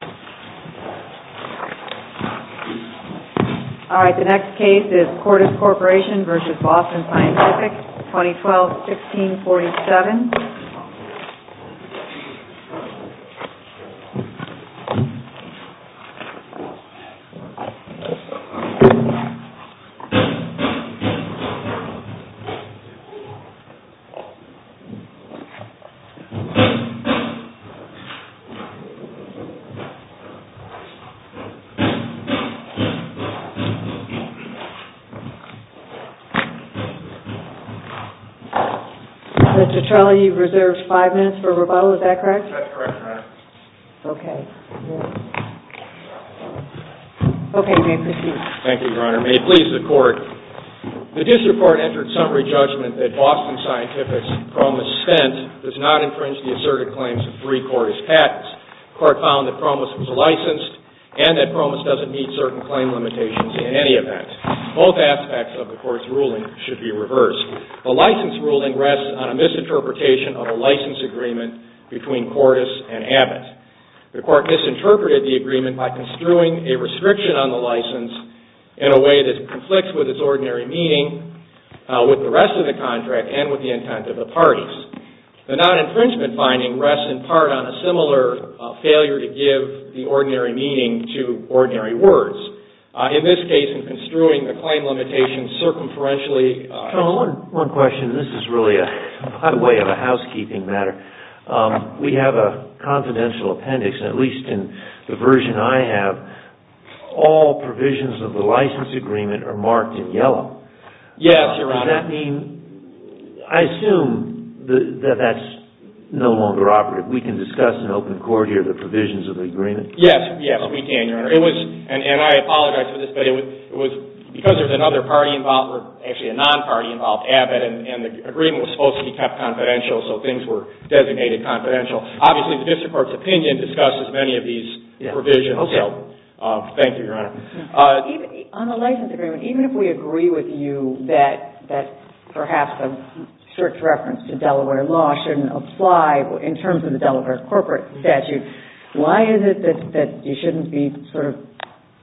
fics, 2012-16-47. The District Court entered summary judgment that Boston Scientifics' promiscent does not meet certain claim limitations in any event. Both aspects of the Court's ruling should be reversed. The license ruling rests on a misinterpretation of a license agreement between CORDIS and Abbott. The Court misinterpreted the agreement by construing a restriction on the license in a way that conflicts with its ordinary meaning with the rest of the contract and with the intent of the parties. The non-infringement finding rests in part on a similar failure to give the ordinary meaning to ordinary words. In this case, in construing the claim limitation circumferentially CHIEF JUSTICE ROBERTS, JR. One question. This is really a hot way of a housekeeping matter. We have a confidential appendix, at least in the version I have. All provisions of the MR. BOSTON SCIENTI v. CORDIS CORPORATION v. BOSTON SCIENTI v. BOSTON SCIENTI v. BOSTON SCIENTI v. BOSTON SCIENTI v. BOSTON SCIENTI v. BOSTON SCIENTI v. BOSTON SCIENTI v. BOSTON CREAMER Yes, we can, Your Honor. It was, and I apologize for this, but there was, because there is another party involved, actually a Non-Party involved, Abbott and the agreement was supposed to be kept confidential so things were designated confidential. Obviously, the District Court's opinion discussed as many of these provisions. Thank you, Your Honor. JUSTICE GINSBURG On the license agreement, even if we agree with you that perhaps a strict reference to Delaware law shouldn't apply in terms of the Delaware corporate statute, why is it that you shouldn't be sort of,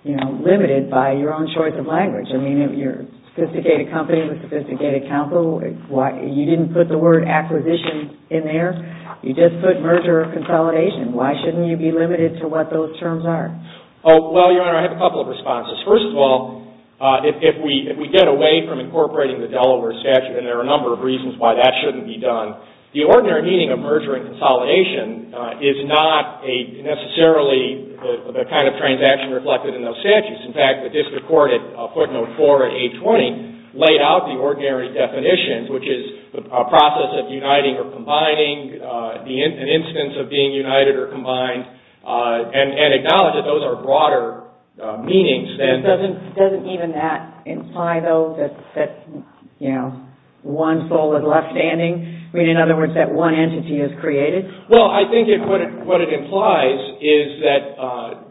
you know, limited by your own choice of language? I mean, you're a sophisticated company with a sophisticated counsel. You didn't put the word acquisition in there. You just put merger or consolidation. Why shouldn't you be limited to what those terms are? CREAMER Oh, well, Your Honor, I have a couple of responses. First of all, if we get away from incorporating the Delaware statute, and there are a number of reasons why that shouldn't be done, the ordinary meaning of merger and consolidation is not necessarily the kind of transaction reflected in those statutes. In fact, the District Court at footnote 4 of 820 laid out the ordinary definition, which is a process of uniting or combining, an instance of being united or combined, and acknowledged that those are broader meanings than... JUSTICE GINSBURG Doesn't even that imply, though, that, you know, one soul is left standing? I mean, in other words, that one entity is created? CREAMER Well, I think what it implies is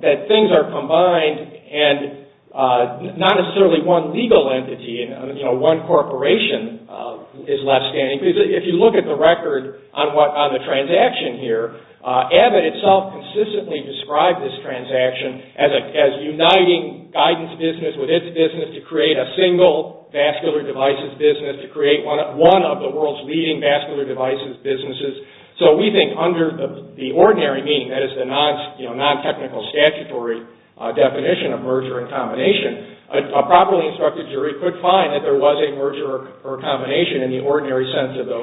that things are combined, and not necessarily one legal entity, you know, one corporation is left standing. If you look at the record on the transaction here, ABA itself consistently described this transaction as uniting guidance business with its business to create a single vascular devices business, to create one of the world's leading vascular devices businesses. So we think under the ordinary meaning, that is the non-technical statutory definition of merger and combination, a properly instructed jury could find that there was a merger or a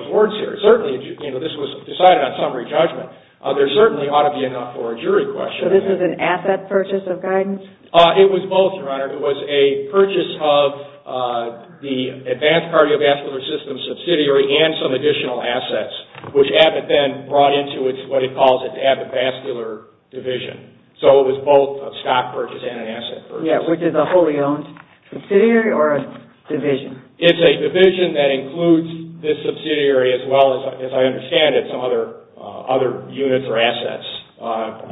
merger. Certainly, you know, this was decided on summary judgment. There certainly ought to be enough for a jury question. JUSTICE GINSBURG So this is an asset purchase of guidance? CREAMER It was both, Your Honor. It was a purchase of the Advanced Cardiovascular Systems subsidiary and some additional assets, which ABA then brought into what it calls its ABA vascular division. So it was both a stock purchase and an asset purchase. JUSTICE GINSBURG Yeah, which is a wholly owned subsidiary or a division? CREAMER It's a division that includes this subsidiary as well as, as I understand it, some other units or assets.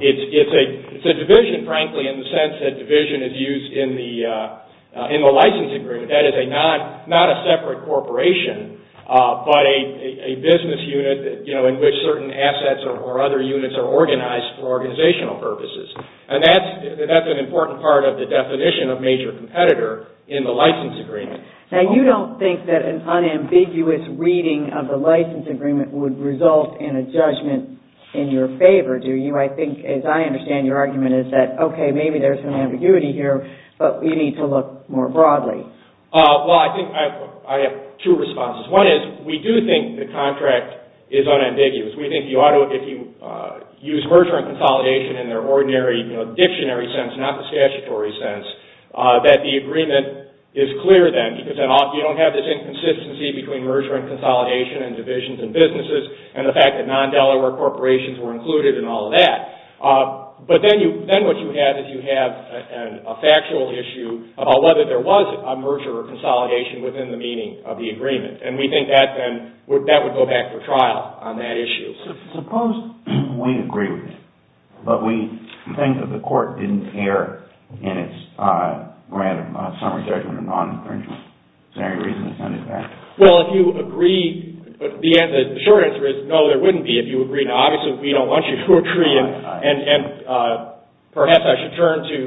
It's a division, frankly, in the sense that division is used in the license agreement. That is not a separate corporation, but a business unit, you know, in which certain assets or other units are organized for organizational purposes. And that's an important part of the definition of major competitor in the license agreement. JUSTICE GINSBURG Now, you don't think that an unambiguous reading of the license agreement would result in a judgment in your favor, do you? I think, as I understand your argument, is that, okay, maybe there's some ambiguity here, but we need to look more broadly. CREAMER Well, I think I have two responses. One is, we do think the contract is unambiguous. We think you ought to, if you use merger and consolidation in their ordinary, you know, dictionary sense, not the statutory sense, that the agreement is clear then, because then you don't have this inconsistency between merger and consolidation and divisions and businesses, and the fact that non-Delaware corporations were included and all of that. But then what you have is you have a factual issue about whether there was a merger or consolidation within the meaning of the agreement. And we think that then, that would go back for trial on that issue. JUSTICE BREYER Suppose we agree with it, but we think that the court didn't err in its random summary judgment of non-incriminatory reasons. CREAMER Well, if you agree, the short answer is no, there wouldn't be if you agreed. Obviously, we don't want you to agree, and perhaps I should turn to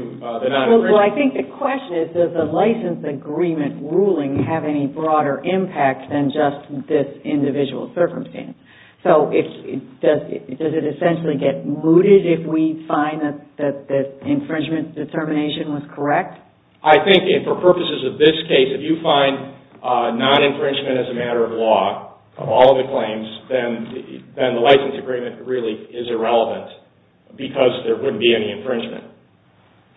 the non-incriminatory... JUSTICE GOLDBERG Well, I think the question is, does the license agreement ruling have any broader impact than just this individual circumstance? So, does it essentially get mooted if we find that the infringement determination was correct? CREAMER I think, for purposes of this case, if you find non-infringement as a matter of law of all the claims, then the license agreement really is irrelevant, because there wouldn't be any infringement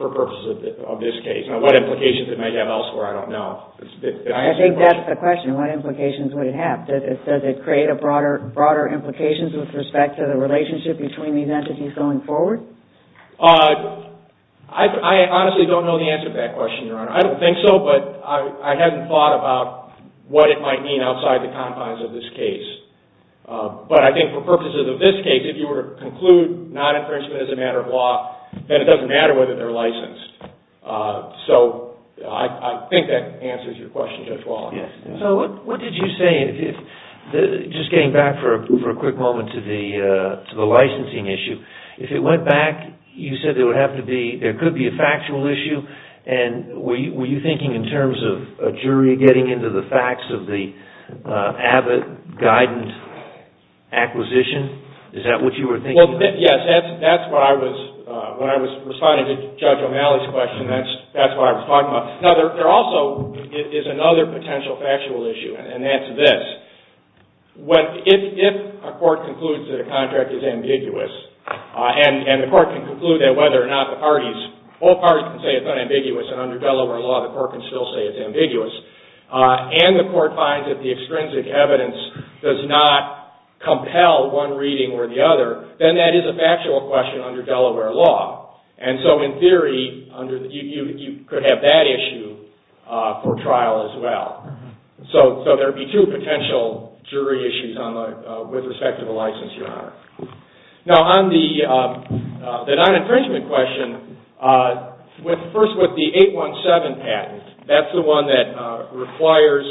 for purposes of this case. Now, what implications it might have elsewhere, I don't know. JUSTICE GOLDBERG I think that's the question, what implications would it have? Does it create broader implications with respect to the relationship between these entities going forward? CREAMER I honestly don't know the answer to that question, Your Honor. I don't think so, but I haven't thought about what it might mean outside the confines of this case. But I think for purposes of this case, if you were to conclude non-infringement as a matter of law, then it doesn't matter whether they're licensed. So, I think that answers your question, Judge Walling. JUSTICE SCALIA So, what did you say, just getting back for a quick moment to the licensing issue, if it went back, you said there could be a factual issue, and were you thinking in terms of a jury getting into the facts of the Abbott Guidant acquisition? Is that what you were thinking? CREAMER Yes, that's what I was, when I was responding to Judge O'Malley's question, that's what I was talking about. Now, there also is another potential factual issue, and that's this. If a court concludes that a contract is ambiguous, and the court can conclude that whether or not the parties can say it's not ambiguous, and under Delaware law the court can still say it's ambiguous, and the court finds that the extrinsic evidence does not compel one reading or the other, then that is a factual question under Delaware law. And so, in theory, you could have that issue for trial as well. So, there would be two potential jury issues with respect to the license, Your Honor. Now, on the non-infringement question, first with the 817 patent, that's the one that requires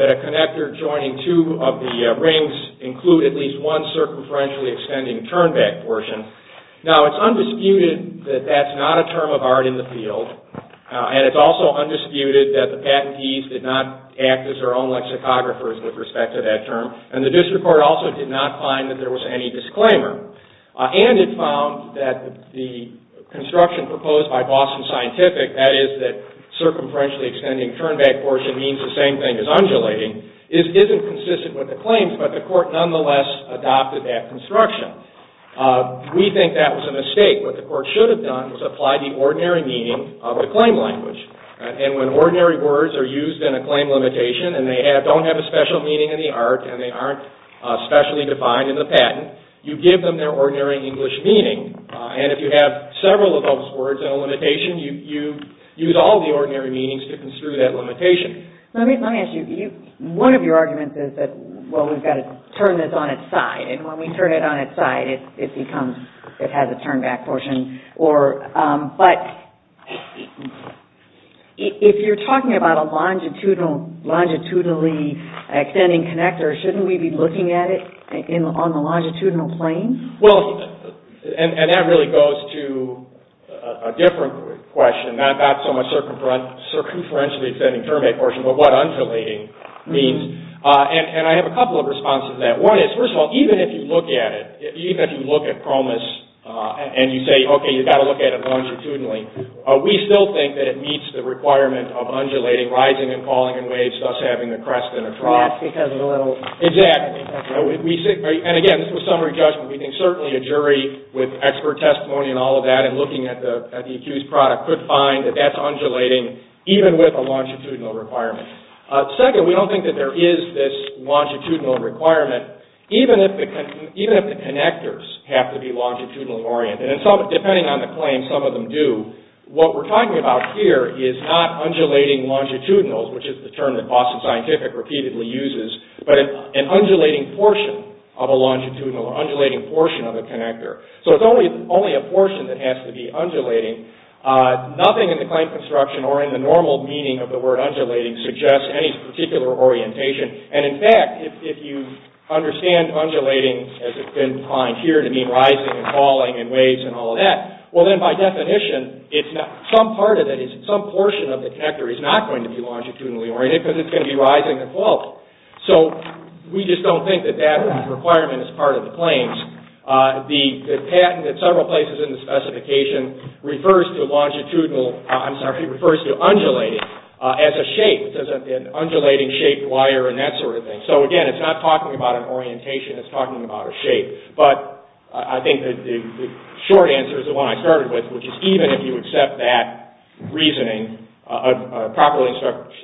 that a connector joining two of the rings include at least one circumferentially extending turnback portion. Now, it's undisputed that that's not a term of art in the field, and it's also undisputed that the patentees did not act as their own lexicographers with respect to that term, and the district court also did not find that there was any disclaimer. And it found that the construction proposed by Boston Scientific, that is that circumferentially extending turnback portion means the same thing as undulating, isn't consistent with the claims, but the court nonetheless adopted that construction. We think that was a mistake. What the court should have done was apply the ordinary meaning of the claim language. And when ordinary words are used in a claim limitation, and they don't have a special meaning in the art, and they aren't specially defined in the patent, you give them their ordinary English meaning. And if you have several of those words in a limitation, you use all the ordinary meanings to construe that limitation. Let me ask you, one of your arguments is that, well, we've got to turn this on its side, and when we turn it on its side, it becomes, it has a turnback portion, or, but, if you're talking about a longitudinally extending connector, shouldn't we be looking at it on the longitudinal plane? Well, and that really goes to a different question, not so much circumferentially extending the turnback portion, but what undulating means. And I have a couple of responses to that. One is, first of all, even if you look at it, even if you look at PROMIS, and you say, okay, you've got to look at it longitudinally, we still think that it meets the requirement of undulating, rising and falling in waves, thus having a crest and a trough. Yes, because of the little... Exactly. And again, this was summary judgment. We think certainly a jury with expert testimony and all of that, and looking at the accused product, could find that that's undulating, even with a longitudinal requirement. Second, we don't think that there is this longitudinal requirement, even if the connectors have to be longitudinally oriented. And depending on the claim, some of them do. What we're talking about here is not undulating longitudinals, which is the term that Boston Scientific repeatedly uses, but an undulating portion of a longitudinal or undulating portion of a connector. So it's only a portion that has to be undulating. Nothing in the claim construction or in the normal meaning of the word undulating suggests any particular orientation. And in fact, if you understand undulating as it's been defined here to mean rising and falling in waves and all of that, well then by definition, some part of it, some portion of the connector is not going to be longitudinally oriented because it's going to be rising and falling. So we just don't think that that requirement is part of the claims. The patent at several places in the specification refers to undulating as a shape, as an undulating shaped wire and that sort of thing. So again, it's not talking about an orientation, it's talking about a shape. But I think the short answer is the one I started with, which is even if you accept that reasoning, a properly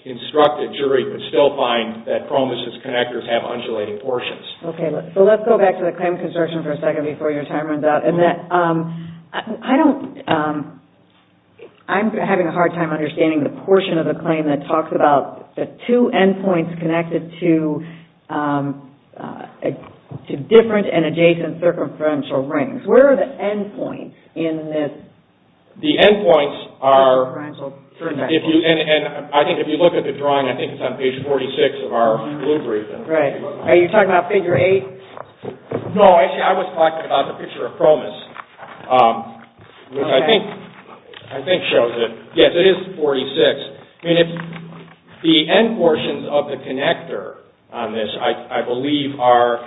instructed jury could still find that PROMIS' connectors have undulating portions. Okay, so let's go back to the claim construction for a second before your time runs out. I'm having a hard time understanding the portion of the claim that talks about the two endpoints connected to different and adjacent circumferential rings. Where are the endpoints in this? The endpoints are, if you look at the drawing, I think it's on page 46 of our blue brief. Are you talking about figure 8? No, I was talking about the picture of PROMIS, which I think shows it. Yes, it is 46. The end portions of the connector on this, I believe are,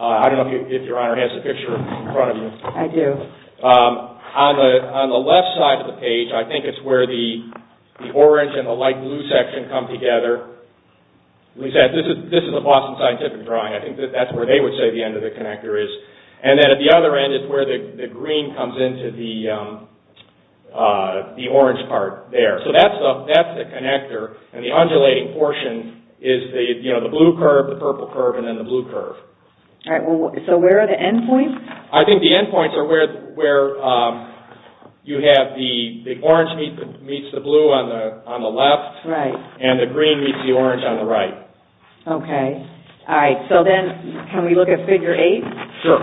I don't know if your Honor has the picture in front of you. I do. On the left side of the page, I think it's where the orange and the light blue section come together. This is a Boston Scientific drawing. I think that's where they would say the end of the connector is. And then at the other end is where the green comes into the orange part there. So, that's the connector and the undulating portion is the blue curve, the purple curve, and then the blue curve. So, where are the endpoints? I think the endpoints are where you have the orange meets the blue on the left, and the green meets the orange on the right. Okay. Alright, so then can we look at figure 8? Sure.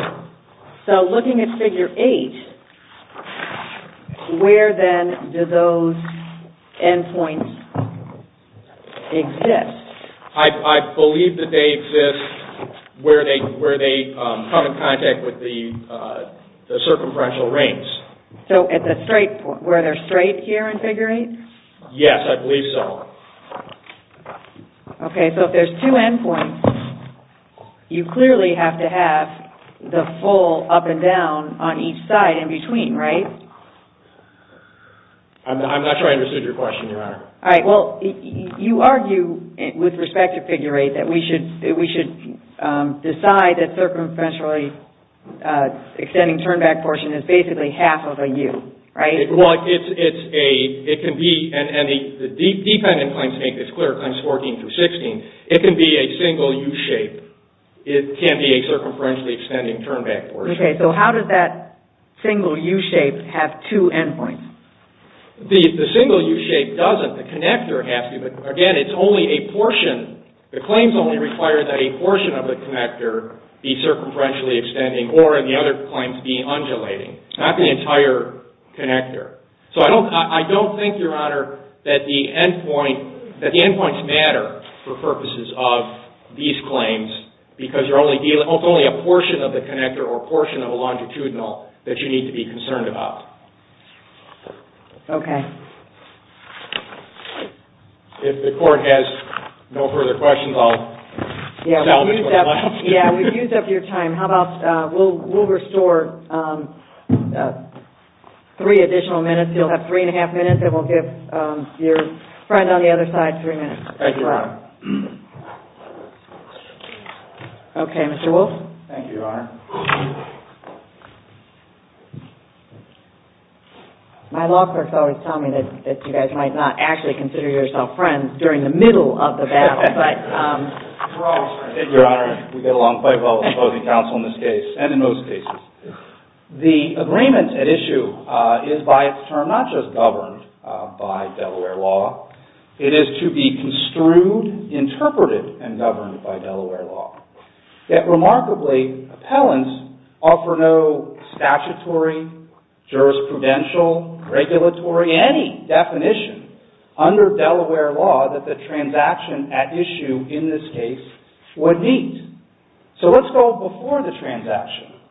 So, looking at figure 8, where then do those endpoints exist? I believe that they exist where they come in contact with the circumferential rings. So, at the straight point, where they're straight here in figure 8? Yes, I believe so. Okay, so if there's two endpoints, you clearly have to have the full up and down on each side in between, right? Alright, well, you argue with respect to figure 8 that we should decide that the circumferentially extending turn-back portion is basically half of a U, right? Well, it can be, and the decline endpoints make this clear at times 14 through 16, it can be a single U shape. It can be a circumferentially extending turn-back portion. Okay, so how does that single U shape have two endpoints? The single U shape doesn't. The connector has to, but again, it's only a portion. The claims only require that a portion of the connector be circumferentially extending or the other claims be undulating, not the entire connector. So, I don't think, Your Honor, that the endpoints matter for purposes of these claims because you're only dealing with only a portion of the connector or a portion of a longitudinal that you need to be concerned about. Okay. If the court has no further questions, I'll... Yeah, we've used up your time. How about we'll restore three additional minutes. You'll have three and a half minutes and we'll give your friend on the other side three minutes. Thank you, Your Honor. Okay, Mr. Wolf. Thank you, Your Honor. My law clerks always tell me that you guys might not actually consider yourself friends during the middle of the battle, but... Your Honor, we get along quite well with opposing counsel in this case and in most cases. The agreement at issue is by its term not just governed by Delaware law. It is to be construed, interpreted, and governed by Delaware law. Yet, remarkably, appellants offer no statutory, jurisprudential, regulatory, any definition under Delaware law that the transaction at issue in this case would meet. So, let's go before the transaction.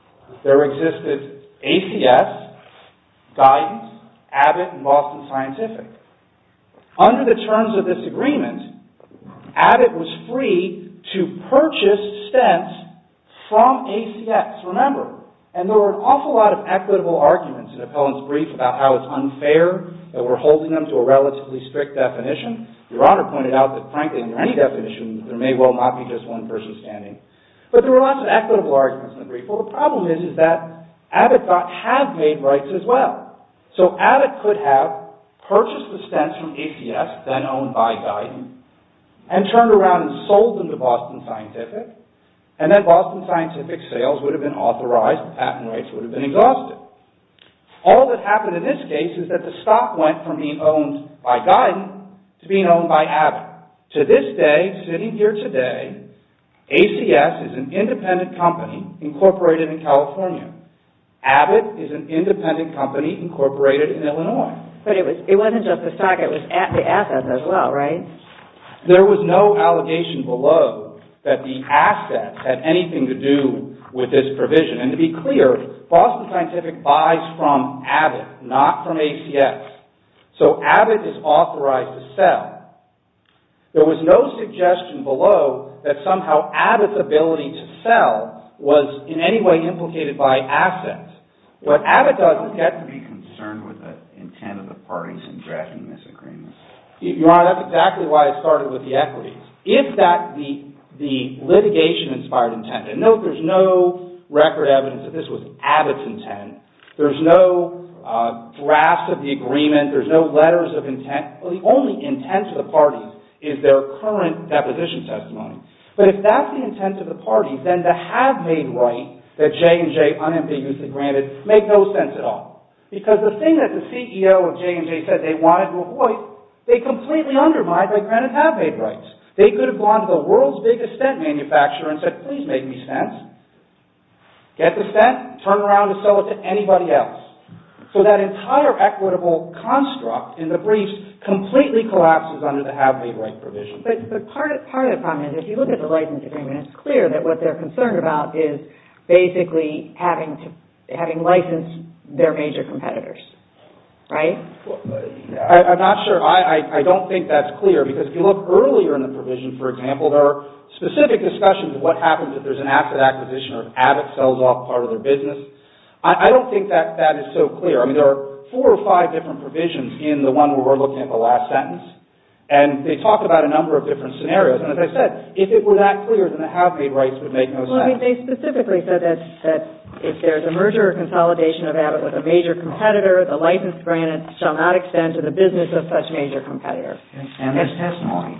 There existed ACS, Guidance, Abbott, and Boston Scientific. Under the terms of this agreement, Abbott was free to purchase stents from ACS. Remember, and there were an awful lot of equitable arguments in appellant's brief about how it's unfair that we're holding them to a relatively strict definition. Your Honor pointed out that, frankly, in any definition, there may well not be just one person standing. But there were lots of equitable arguments in the brief. Well, the problem is that Abbott thought have made rights as well. So, Abbott could have purchased the stents from ACS, then owned by Guidance, and turned around and sold them to Boston Scientific, and then Boston Scientific's sales would have been authorized, and patent rights would have been exhausted. All that happened in this case is that the stock went from being owned by Guidance to being owned by Abbott. To this day, sitting here today, ACS is an independent company incorporated in California. Abbott is an independent company incorporated in Illinois. But it wasn't just the stock, it was the assets as well, right? There was no allegation below that the assets had anything to do with this provision. And to be clear, Boston Scientific buys from Abbott, not from ACS. So, Abbott is authorized to sell. There was no suggestion below that somehow Abbott's ability to sell was in any way implicated by assets. What Abbott does is get to be concerned with the intent of the parties in drafting this agreement. Your Honor, that's exactly why I started with the equities. If that's the litigation-inspired intent, and note there's no record evidence that this was Abbott's intent, there's no draft of the agreement, there's no letters of intent. The only intent of the parties is their current deposition testimony. But if that's the intent of the parties, then the have-made right that J&J unambiguously granted makes no sense at all. Because the thing that the CEO of J&J said they wanted to avoid, they completely undermined their granted have-made rights. They could have gone to the world's biggest scent manufacturer and said, please make me scents, get the scent, turn around and sell it to anybody else. So that entire equitable construct in the briefs completely collapses under the have-made right provision. But part of the problem is if you look at the license agreement, it's clear that what they're concerned about is basically having licensed their major competitors. Right? I'm not sure. I don't think that's clear. Because if you look earlier in the provision, for example, there are specific discussions of what happens if there's an asset acquisition or if Abbott sells off part of their business. I don't think that that is so clear. I mean, there are four or five different provisions in the one where we're looking at the last sentence. And they talk about a number of different scenarios. And as I said, if it were that clear, then the have-made rights would make no sense. Well, they specifically said that if there's a merger or consolidation of Abbott with a major competitor, the license granted shall not extend to the business of such major competitor. And there's testimony.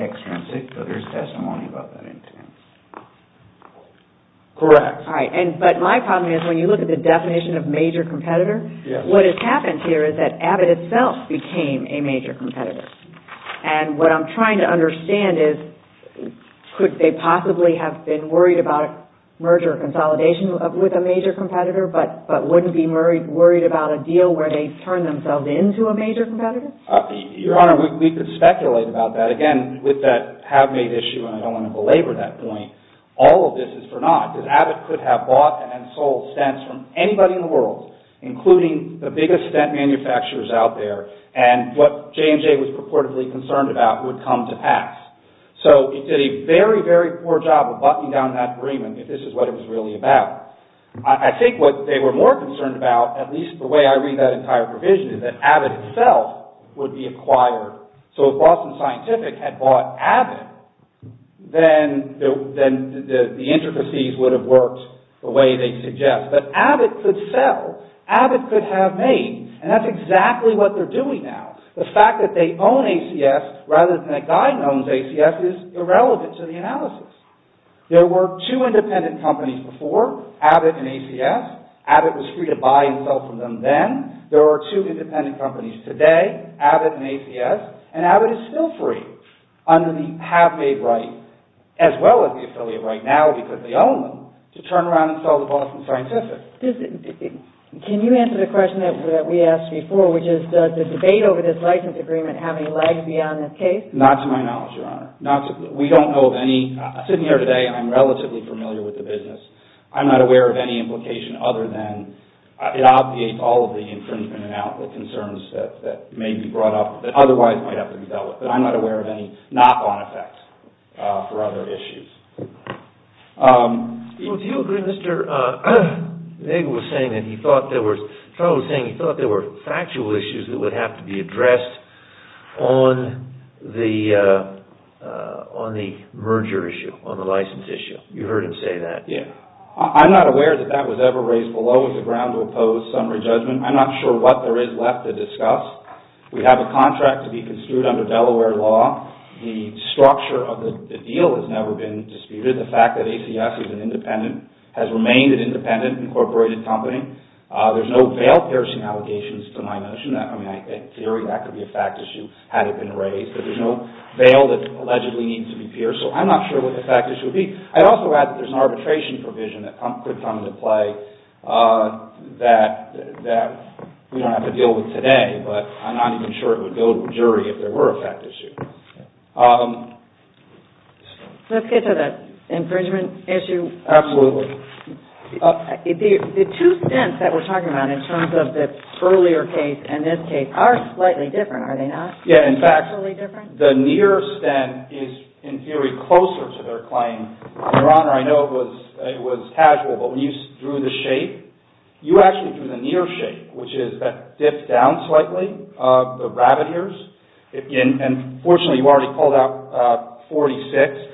Extrinsic, but there's testimony about that intent. Correct. All right. But my problem is when you look at the definition of major competitor, what has happened here is that Abbott itself became a major competitor. And what I'm trying to understand is, could they possibly have been worried about merger or consolidation with a major competitor, but wouldn't be worried about a deal where they turn themselves into a major competitor? Your Honor, we could speculate about that. Again, with that have-made issue, and I don't want to belabor that point, all of this is for naught. Abbott could have bought and sold stents from anybody in the world, including the biggest stent manufacturers out there, and what J&J was purportedly concerned about would come to pass. So it did a very, very poor job of buttoning down that agreement if this is what it was really about. I think what they were more concerned about, at least the way I read that entire provision, is that Abbott itself would be acquired. So if Boston Scientific had bought Abbott, then the intricacies would have worked the way they suggest. But Abbott could sell. Abbott could have made. And that's exactly what they're doing now. The fact that they own ACS rather than a guy who owns ACS is irrelevant to the analysis. There were two independent companies before, Abbott and ACS. Abbott was free to buy and sell from them then. There are two independent companies today, Abbott and ACS, and Abbott is still free under the have-made right, as well as the affiliate right now, because they own them, to turn around and sell to Boston Scientific. Can you answer the question that we asked before, which is does the debate over this license agreement have any legs beyond this case? Not to my knowledge, Your Honor. We don't know of any. Sitting here today, I'm relatively familiar with the business. I'm not aware of any implication other than it obviates all of the infringement and outlaw concerns that may be brought up that otherwise might have to be dealt with. But I'm not aware of any knock-on effect for other issues. Do you agree, Mr. Nagle was saying that he thought there were factual issues that would have to be addressed on the merger issue, on the license issue. You heard him say that. Yeah. I'm not aware that that was ever raised below the ground to oppose summary judgment. I'm not sure what there is left to discuss. We have a contract to be construed under Delaware law. The structure of the deal has never been disputed. The fact that ACS is an independent, has remained an independent, incorporated company. There's no bail-piercing allegations to my notion. I mean, in theory, that could be a fact issue had it been raised. But there's no bail that allegedly needs to be pierced, so I'm not sure what the fact issue would be. I'd also add that there's an arbitration provision that could come into play that we don't have to deal with today, but I'm not even sure it would go to a jury if there were a fact issue. Let's get to the infringement issue. Absolutely. The two stints that we're talking about in terms of the earlier case and this case are slightly different, are they not? Yeah, in fact, the near stint is, in theory, closer to their claim. Your Honor, I know it was casual, but when you drew the shape, you actually drew the near shape, which is that dipped down slightly, the rabbit ears. And fortunately, you already pulled out 46,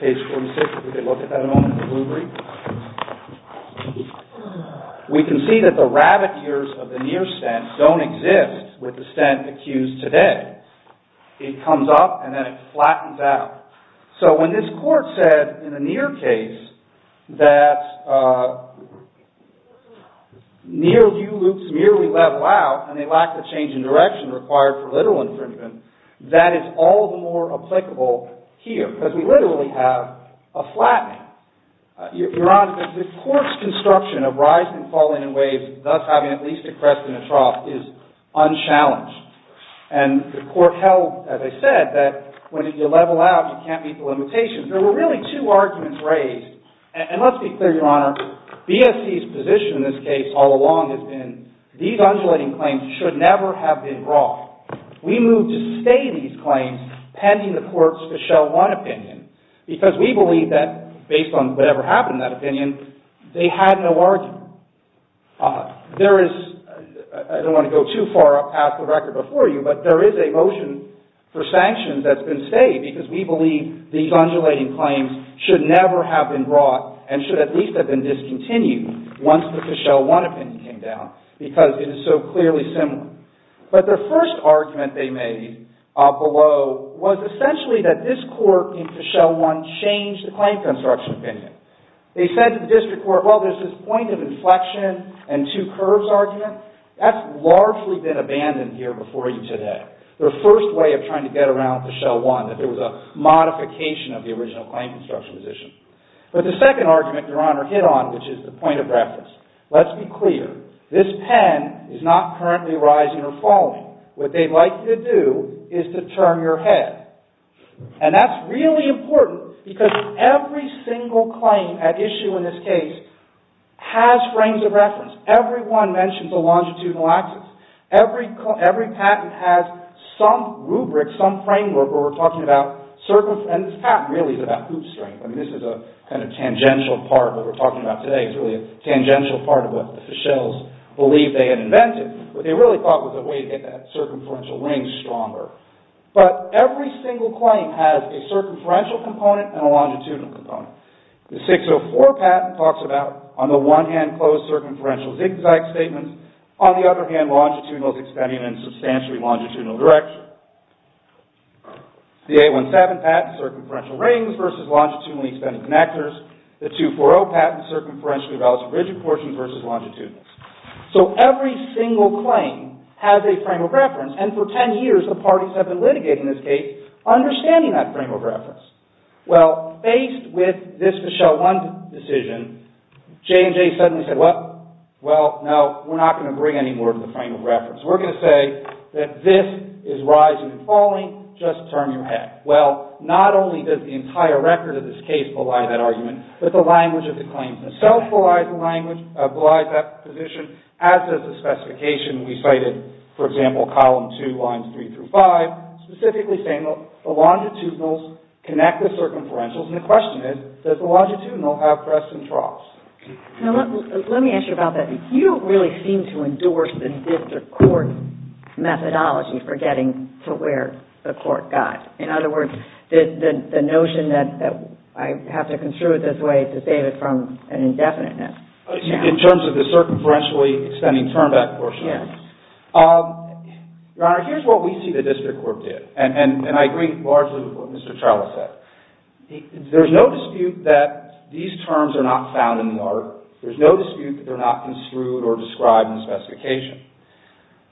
page 46, if we could look at that a moment, the rubric. We can see that the rabbit ears of the near stint don't exist with the stint accused today. It comes up, and then it flattens out. So when this court said in the near case that near U loops merely level out, and they lack the change in direction required for literal infringement, that is all the more applicable here, because we literally have a flattening. Your Honor, the court's construction of rising and falling in waves, thus having at least a crest and a trough, is unchallenged. And the court held, as I said, that when you level out, you can't meet the limitations. There were really two arguments raised. And let's be clear, Your Honor. BSC's position in this case all along has been these undulating claims should never have been brought. We moved to stay these claims pending the courts to show one opinion, because we believe that, based on whatever happened in that opinion, they had no argument. I don't want to go too far past the record before you, but there is a motion for sanctions that's been stayed, because we believe these undulating claims should never have been brought and should at least have been discontinued once the Fischel 1 opinion came down, because it is so clearly similar. But the first argument they made below was essentially that this court in Fischel 1 changed the claim construction opinion. They said to the district court, well, there's this point of inflection and two curves argument. That's largely been abandoned here before you today. Their first way of trying to get around Fischel 1, that there was a modification of the original claim construction position. But the second argument, Your Honor, hit on, which is the point of reference. Let's be clear. This pen is not currently rising or falling. What they'd like you to do is to turn your head. And that's really important, because every single claim at issue in this case has frames of reference. Every one mentions a longitudinal axis. Every patent has some rubric, some framework, where we're talking about circumferential, and this patent really is about hoop strength. I mean, this is a kind of tangential part of what we're talking about today. It's really a tangential part of what the Fischels believe they had invented. What they really thought was a way to get that circumferential ring stronger. But every single claim has a circumferential component and a longitudinal component. The 604 patent talks about, on the one hand, closed circumferential zigzag statements. On the other hand, longitudinal is extending in a substantially longitudinal direction. The 817 patent, circumferential rings versus longitudinally extended connectors. The 240 patent, circumferentially relative rigid portion versus longitudinal. So every single claim has a frame of reference, and for 10 years, the parties have been litigating this case, understanding that frame of reference. Well, faced with this Fischel 1 decision, J&J suddenly said, well, no, we're not going to bring any more to the frame of reference. We're going to say that this is rising and falling. Just turn your head. Well, not only does the entire record of this case belie that argument, but the language of the claims themselves belie that position, as does the specification we cited, for example, column 2, lines 3 through 5, specifically saying the longitudinals connect the circumferentials. And the question is, does the longitudinal have crests and troughs? Now, let me ask you about that. You really seem to endorse the district court methodology for getting to where the court got. In other words, the notion that I have to construe it this way to save it from an indefiniteness. In terms of the circumferentially extending Your Honor, here's what we see the district court did. And I agree largely with what Mr. Trello said. There's no dispute that these terms are not found in the art. There's no dispute that they're not construed or described in the specification.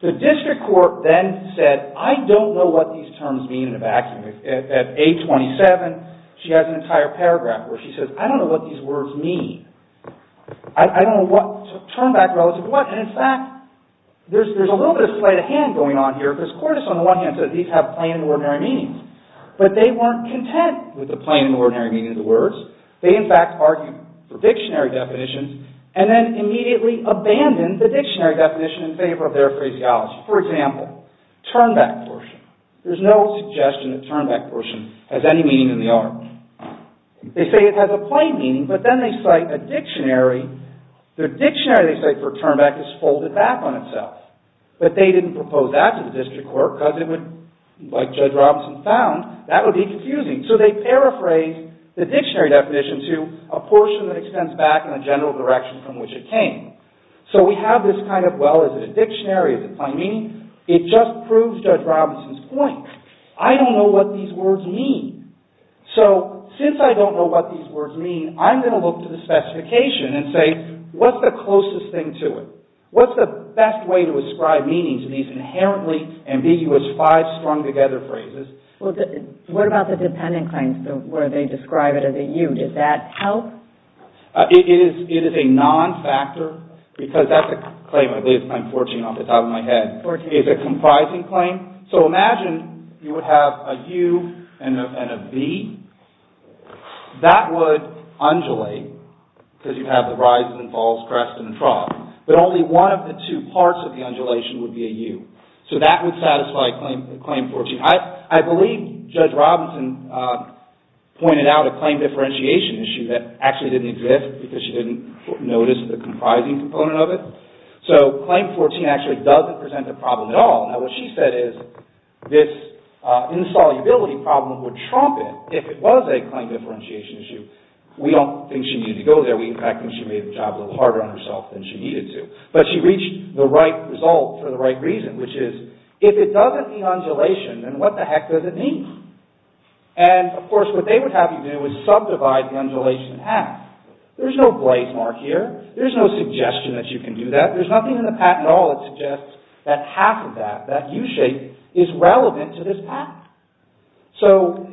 The district court then said, I don't know what these terms mean in a vacuum. At 827, she has an entire paragraph where she says, I don't know what these words mean. I don't know what to turn back relative to what. In fact, there's a little bit of sleight of hand going on here because Cordes, on the one hand, said these have plain and ordinary meanings. But they weren't content with the plain and ordinary meaning of the words. They, in fact, argued for dictionary definitions and then immediately abandoned the dictionary definition in favor of their phraseology. For example, turnback portion. There's no suggestion that turnback portion They say it has a plain meaning, but then they cite a dictionary. Their dictionary, they say, for turnback is folded back on itself. But they didn't propose that to the district court because it would, like Judge Robinson found, that would be confusing. So they paraphrased the dictionary definition to a portion that extends back in a general direction from which it came. So we have this kind of, well, is it a dictionary? Is it plain meaning? It just proves Judge Robinson's point. I don't know what these words mean. So since I don't know what these words mean, I'm going to look to the specification and say, what's the closest thing to it? What's the best way to ascribe meaning to these inherently ambiguous five strung together phrases? Well, what about the dependent claims where they describe it as a U? Does that help? It is a non-factor. Because that's a claim, at least I'm forging it off the top of my head. It's a comprising claim. So imagine you would have a U and a V. That would undulate because you have the rises and falls, crests, and troughs. But only one of the two parts of the undulation would be a U. So that would satisfy Claim 14. I believe Judge Robinson pointed out a claim differentiation issue that actually didn't exist because she didn't notice the comprising component of it. So Claim 14 actually doesn't present a problem at all. Now, what she said is this insolubility problem would trump it if it was a claim differentiation issue. We don't think she needed to go there. We, in fact, think she made the job a little harder on herself than she needed to. But she reached the right result for the right reason, which is if it doesn't be undulation, then what the heck does it mean? And, of course, what they would have you do is subdivide the undulation in half. There's no blaze mark here. There's no suggestion that you can do that. There's nothing in the patent at all that suggests that half of that, that U shape, is relevant to this patent. So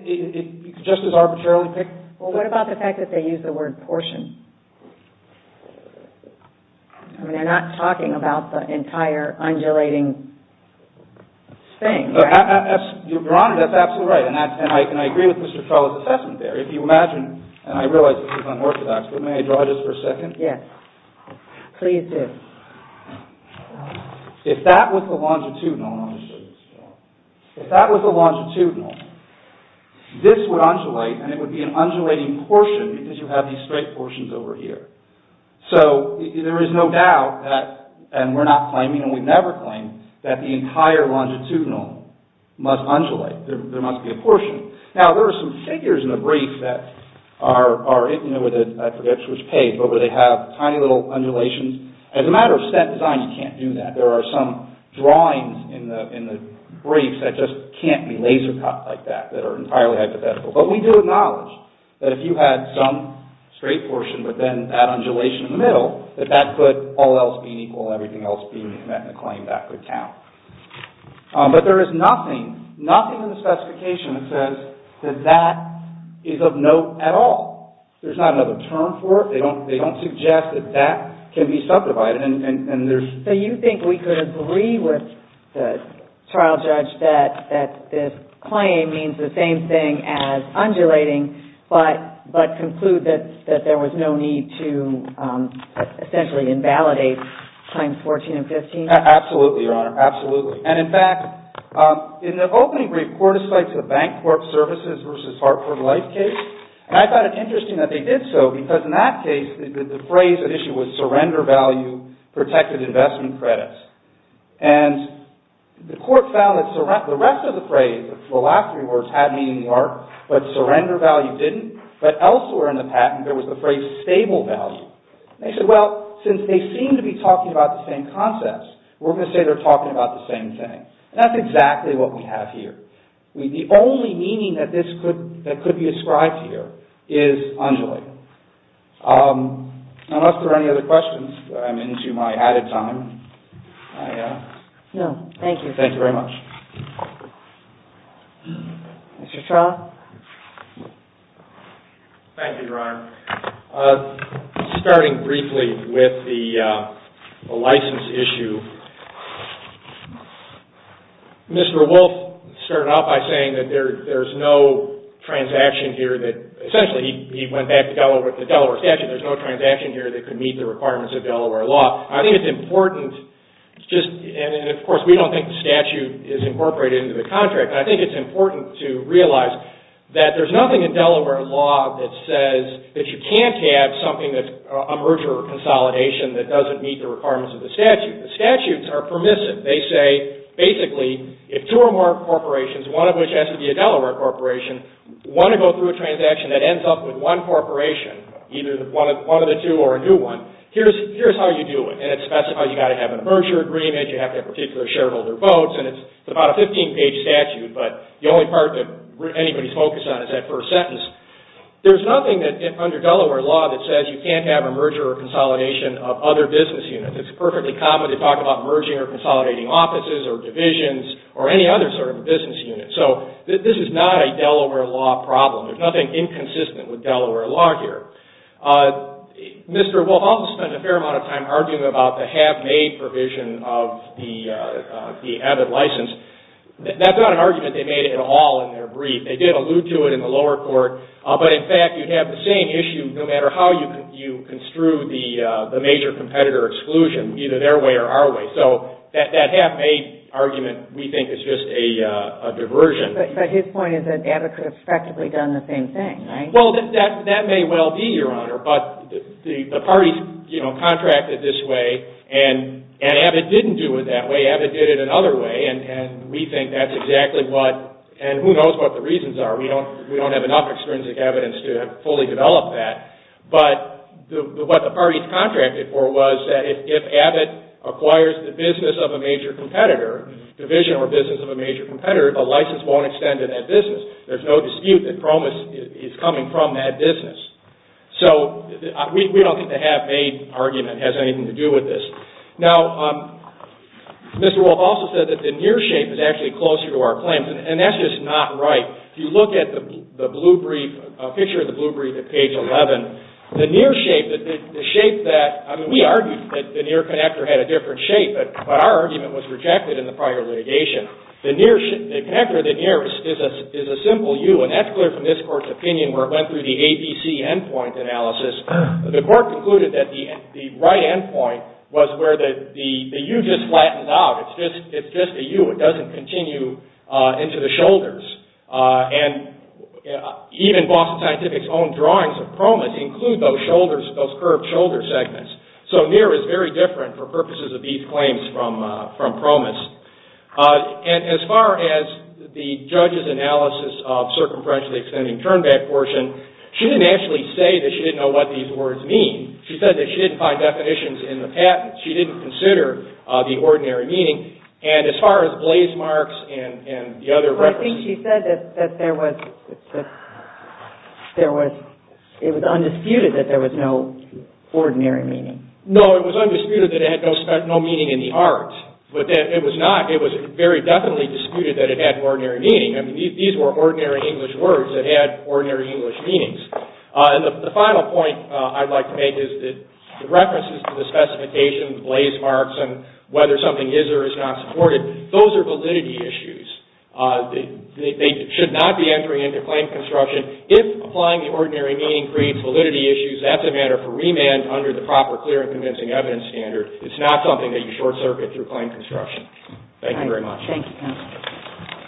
just as arbitrarily... Well, what about the fact that they use the word portion? I mean, they're not talking about the entire undulating thing, right? Your Honor, that's absolutely right. And I agree with Mr. Crowley's assessment there. If you imagine, and I realize this is unorthodox, but may I draw it just for a second? Yes, please do. If that was the longitudinal... If that was the longitudinal, this would undulate, and it would be an undulating portion because you have these straight portions over here. So there is no doubt that, and we're not claiming, and we've never claimed, that the entire longitudinal must undulate. There must be a portion. Now, there are some figures in the brief that are, you know, with a predictor's page, but where they have tiny little undulations. As a matter of set design, you can't do that. There are some drawings in the briefs that just can't be laser cut like that, that are entirely hypothetical. But we do acknowledge that if you had some straight portion, but then that undulation in the middle, that that could, all else being equal, everything else being met in a claim, that could count. But there is nothing, nothing in the specification that says that that is of note at all. There's not another term for it. They don't suggest that that can be subdivided. So you think we could agree with the trial judge that this claim means the same thing as undulating, but conclude that there was no need to essentially invalidate Claims 14 and 15? Absolutely, Your Honor. Absolutely. And in fact, in the opening brief, court has cited the Bank Corp Services versus Hartford Life case, and I thought it interesting that they did so because in that case, the phrase at issue was surrender value protected investment credits. And the court found that the rest of the phrase, the last three words, had meaning in the art, but surrender value didn't. But elsewhere in the patent, there was the phrase stable value. They said, well, since they seem to be talking about the same concepts, we're going to say they're talking about the same thing. And that's exactly what we have here. The only meaning that could be ascribed here is undulating. Unless there are any other questions, I'm into my added time. No, thank you. Thank you very much. Mr. Traub? Thank you, Your Honor. Starting briefly with the license issue, Mr. Wolf started out by saying that there's no transaction here that, essentially, he went back to the Delaware statute. There's no transaction here that could meet the requirements of Delaware law. I think it's important just, and of course, we don't think the statute is incorporated into the contract. I think it's important to realize that there's nothing in Delaware law that says that you can't have something that's a merger or consolidation that doesn't meet the requirements of the statute. The statutes are permissive. They say, basically, if two or more corporations, one of which has to be a Delaware corporation, want to go through a transaction that ends up with one corporation, either one of the two or a new one, here's how you do it. It specifies you've got to have a merger agreement, you have to have particular shareholder votes, and it's about a 15-page statute, but the only part that anybody's focused on is that first sentence. There's nothing under Delaware law that says you can't have a merger or consolidation of other business units. It's perfectly common to talk about merging or consolidating offices or divisions or any other sort of business unit. This is not a Delaware law problem. There's nothing inconsistent with Delaware law here. Mr. Wolf also spent a fair amount of time arguing about the half-made provision of the AVID license. That's not an argument they made at all in their brief. They did allude to it in the lower court, but, in fact, you'd have the same issue no matter how you construe the major competitor exclusion, either their way or our way. That half-made argument, we think, is just a diversion. But his point is that AVID could have effectively done the same thing, right? Well, that may well be, Your Honor, but the parties contracted this way, and AVID didn't do it that way. AVID did it another way, and we think that's exactly what, and who knows what the reasons are. We don't have enough extrinsic evidence to fully develop that, but what the parties contracted for was that if AVID acquires the business of a major competitor, division or business of a major competitor, the license won't extend to that business. There's no dispute that PROMIS is coming from that business. So, we don't think the half-made argument has anything to do with this. Now, Mr. Wolf also said that the near shape is actually closer to our claims, and that's just not right. If you look at the picture of the blue brief at page 11, the near shape, the shape that, I mean, we argued that the near connector had a different shape, but our argument was rejected in the prior litigation. The near, the connector that nears is a simple U, and that's clear from this court's opinion where it went through the ABC endpoint analysis. The court concluded that the right endpoint was where the U just flattens out. It's just a U. It doesn't continue into the shoulders, and even Boston Scientific's own drawings of PROMIS include those shoulders, those curved shoulder segments. So, near is very different for purposes of these claims from PROMIS, and as far as the judge's analysis of circumferentially extending turnback portion, she didn't actually say that she didn't know what these words mean. She said that she didn't find definitions in the patent. She didn't consider the ordinary meaning, and as far as blaze marks and the other references. Well, I think she said that there was, it was undisputed that there was no ordinary meaning. No, it was undisputed that it had no meaning in the art, but it was not, it was very definitely disputed that it had ordinary meaning. I mean, these were ordinary English words that had ordinary English meanings, and the final point I'd like to make is that the references to the specification, the blaze marks, and whether something is or is not supported, those are validity issues. They should not be entering into claim construction. If applying the ordinary meaning creates validity issues, that's a matter for remand under the proper clear and convincing evidence standard. It's not something that you short-circuit through claim construction. Thank you very much. Thank you, counsel.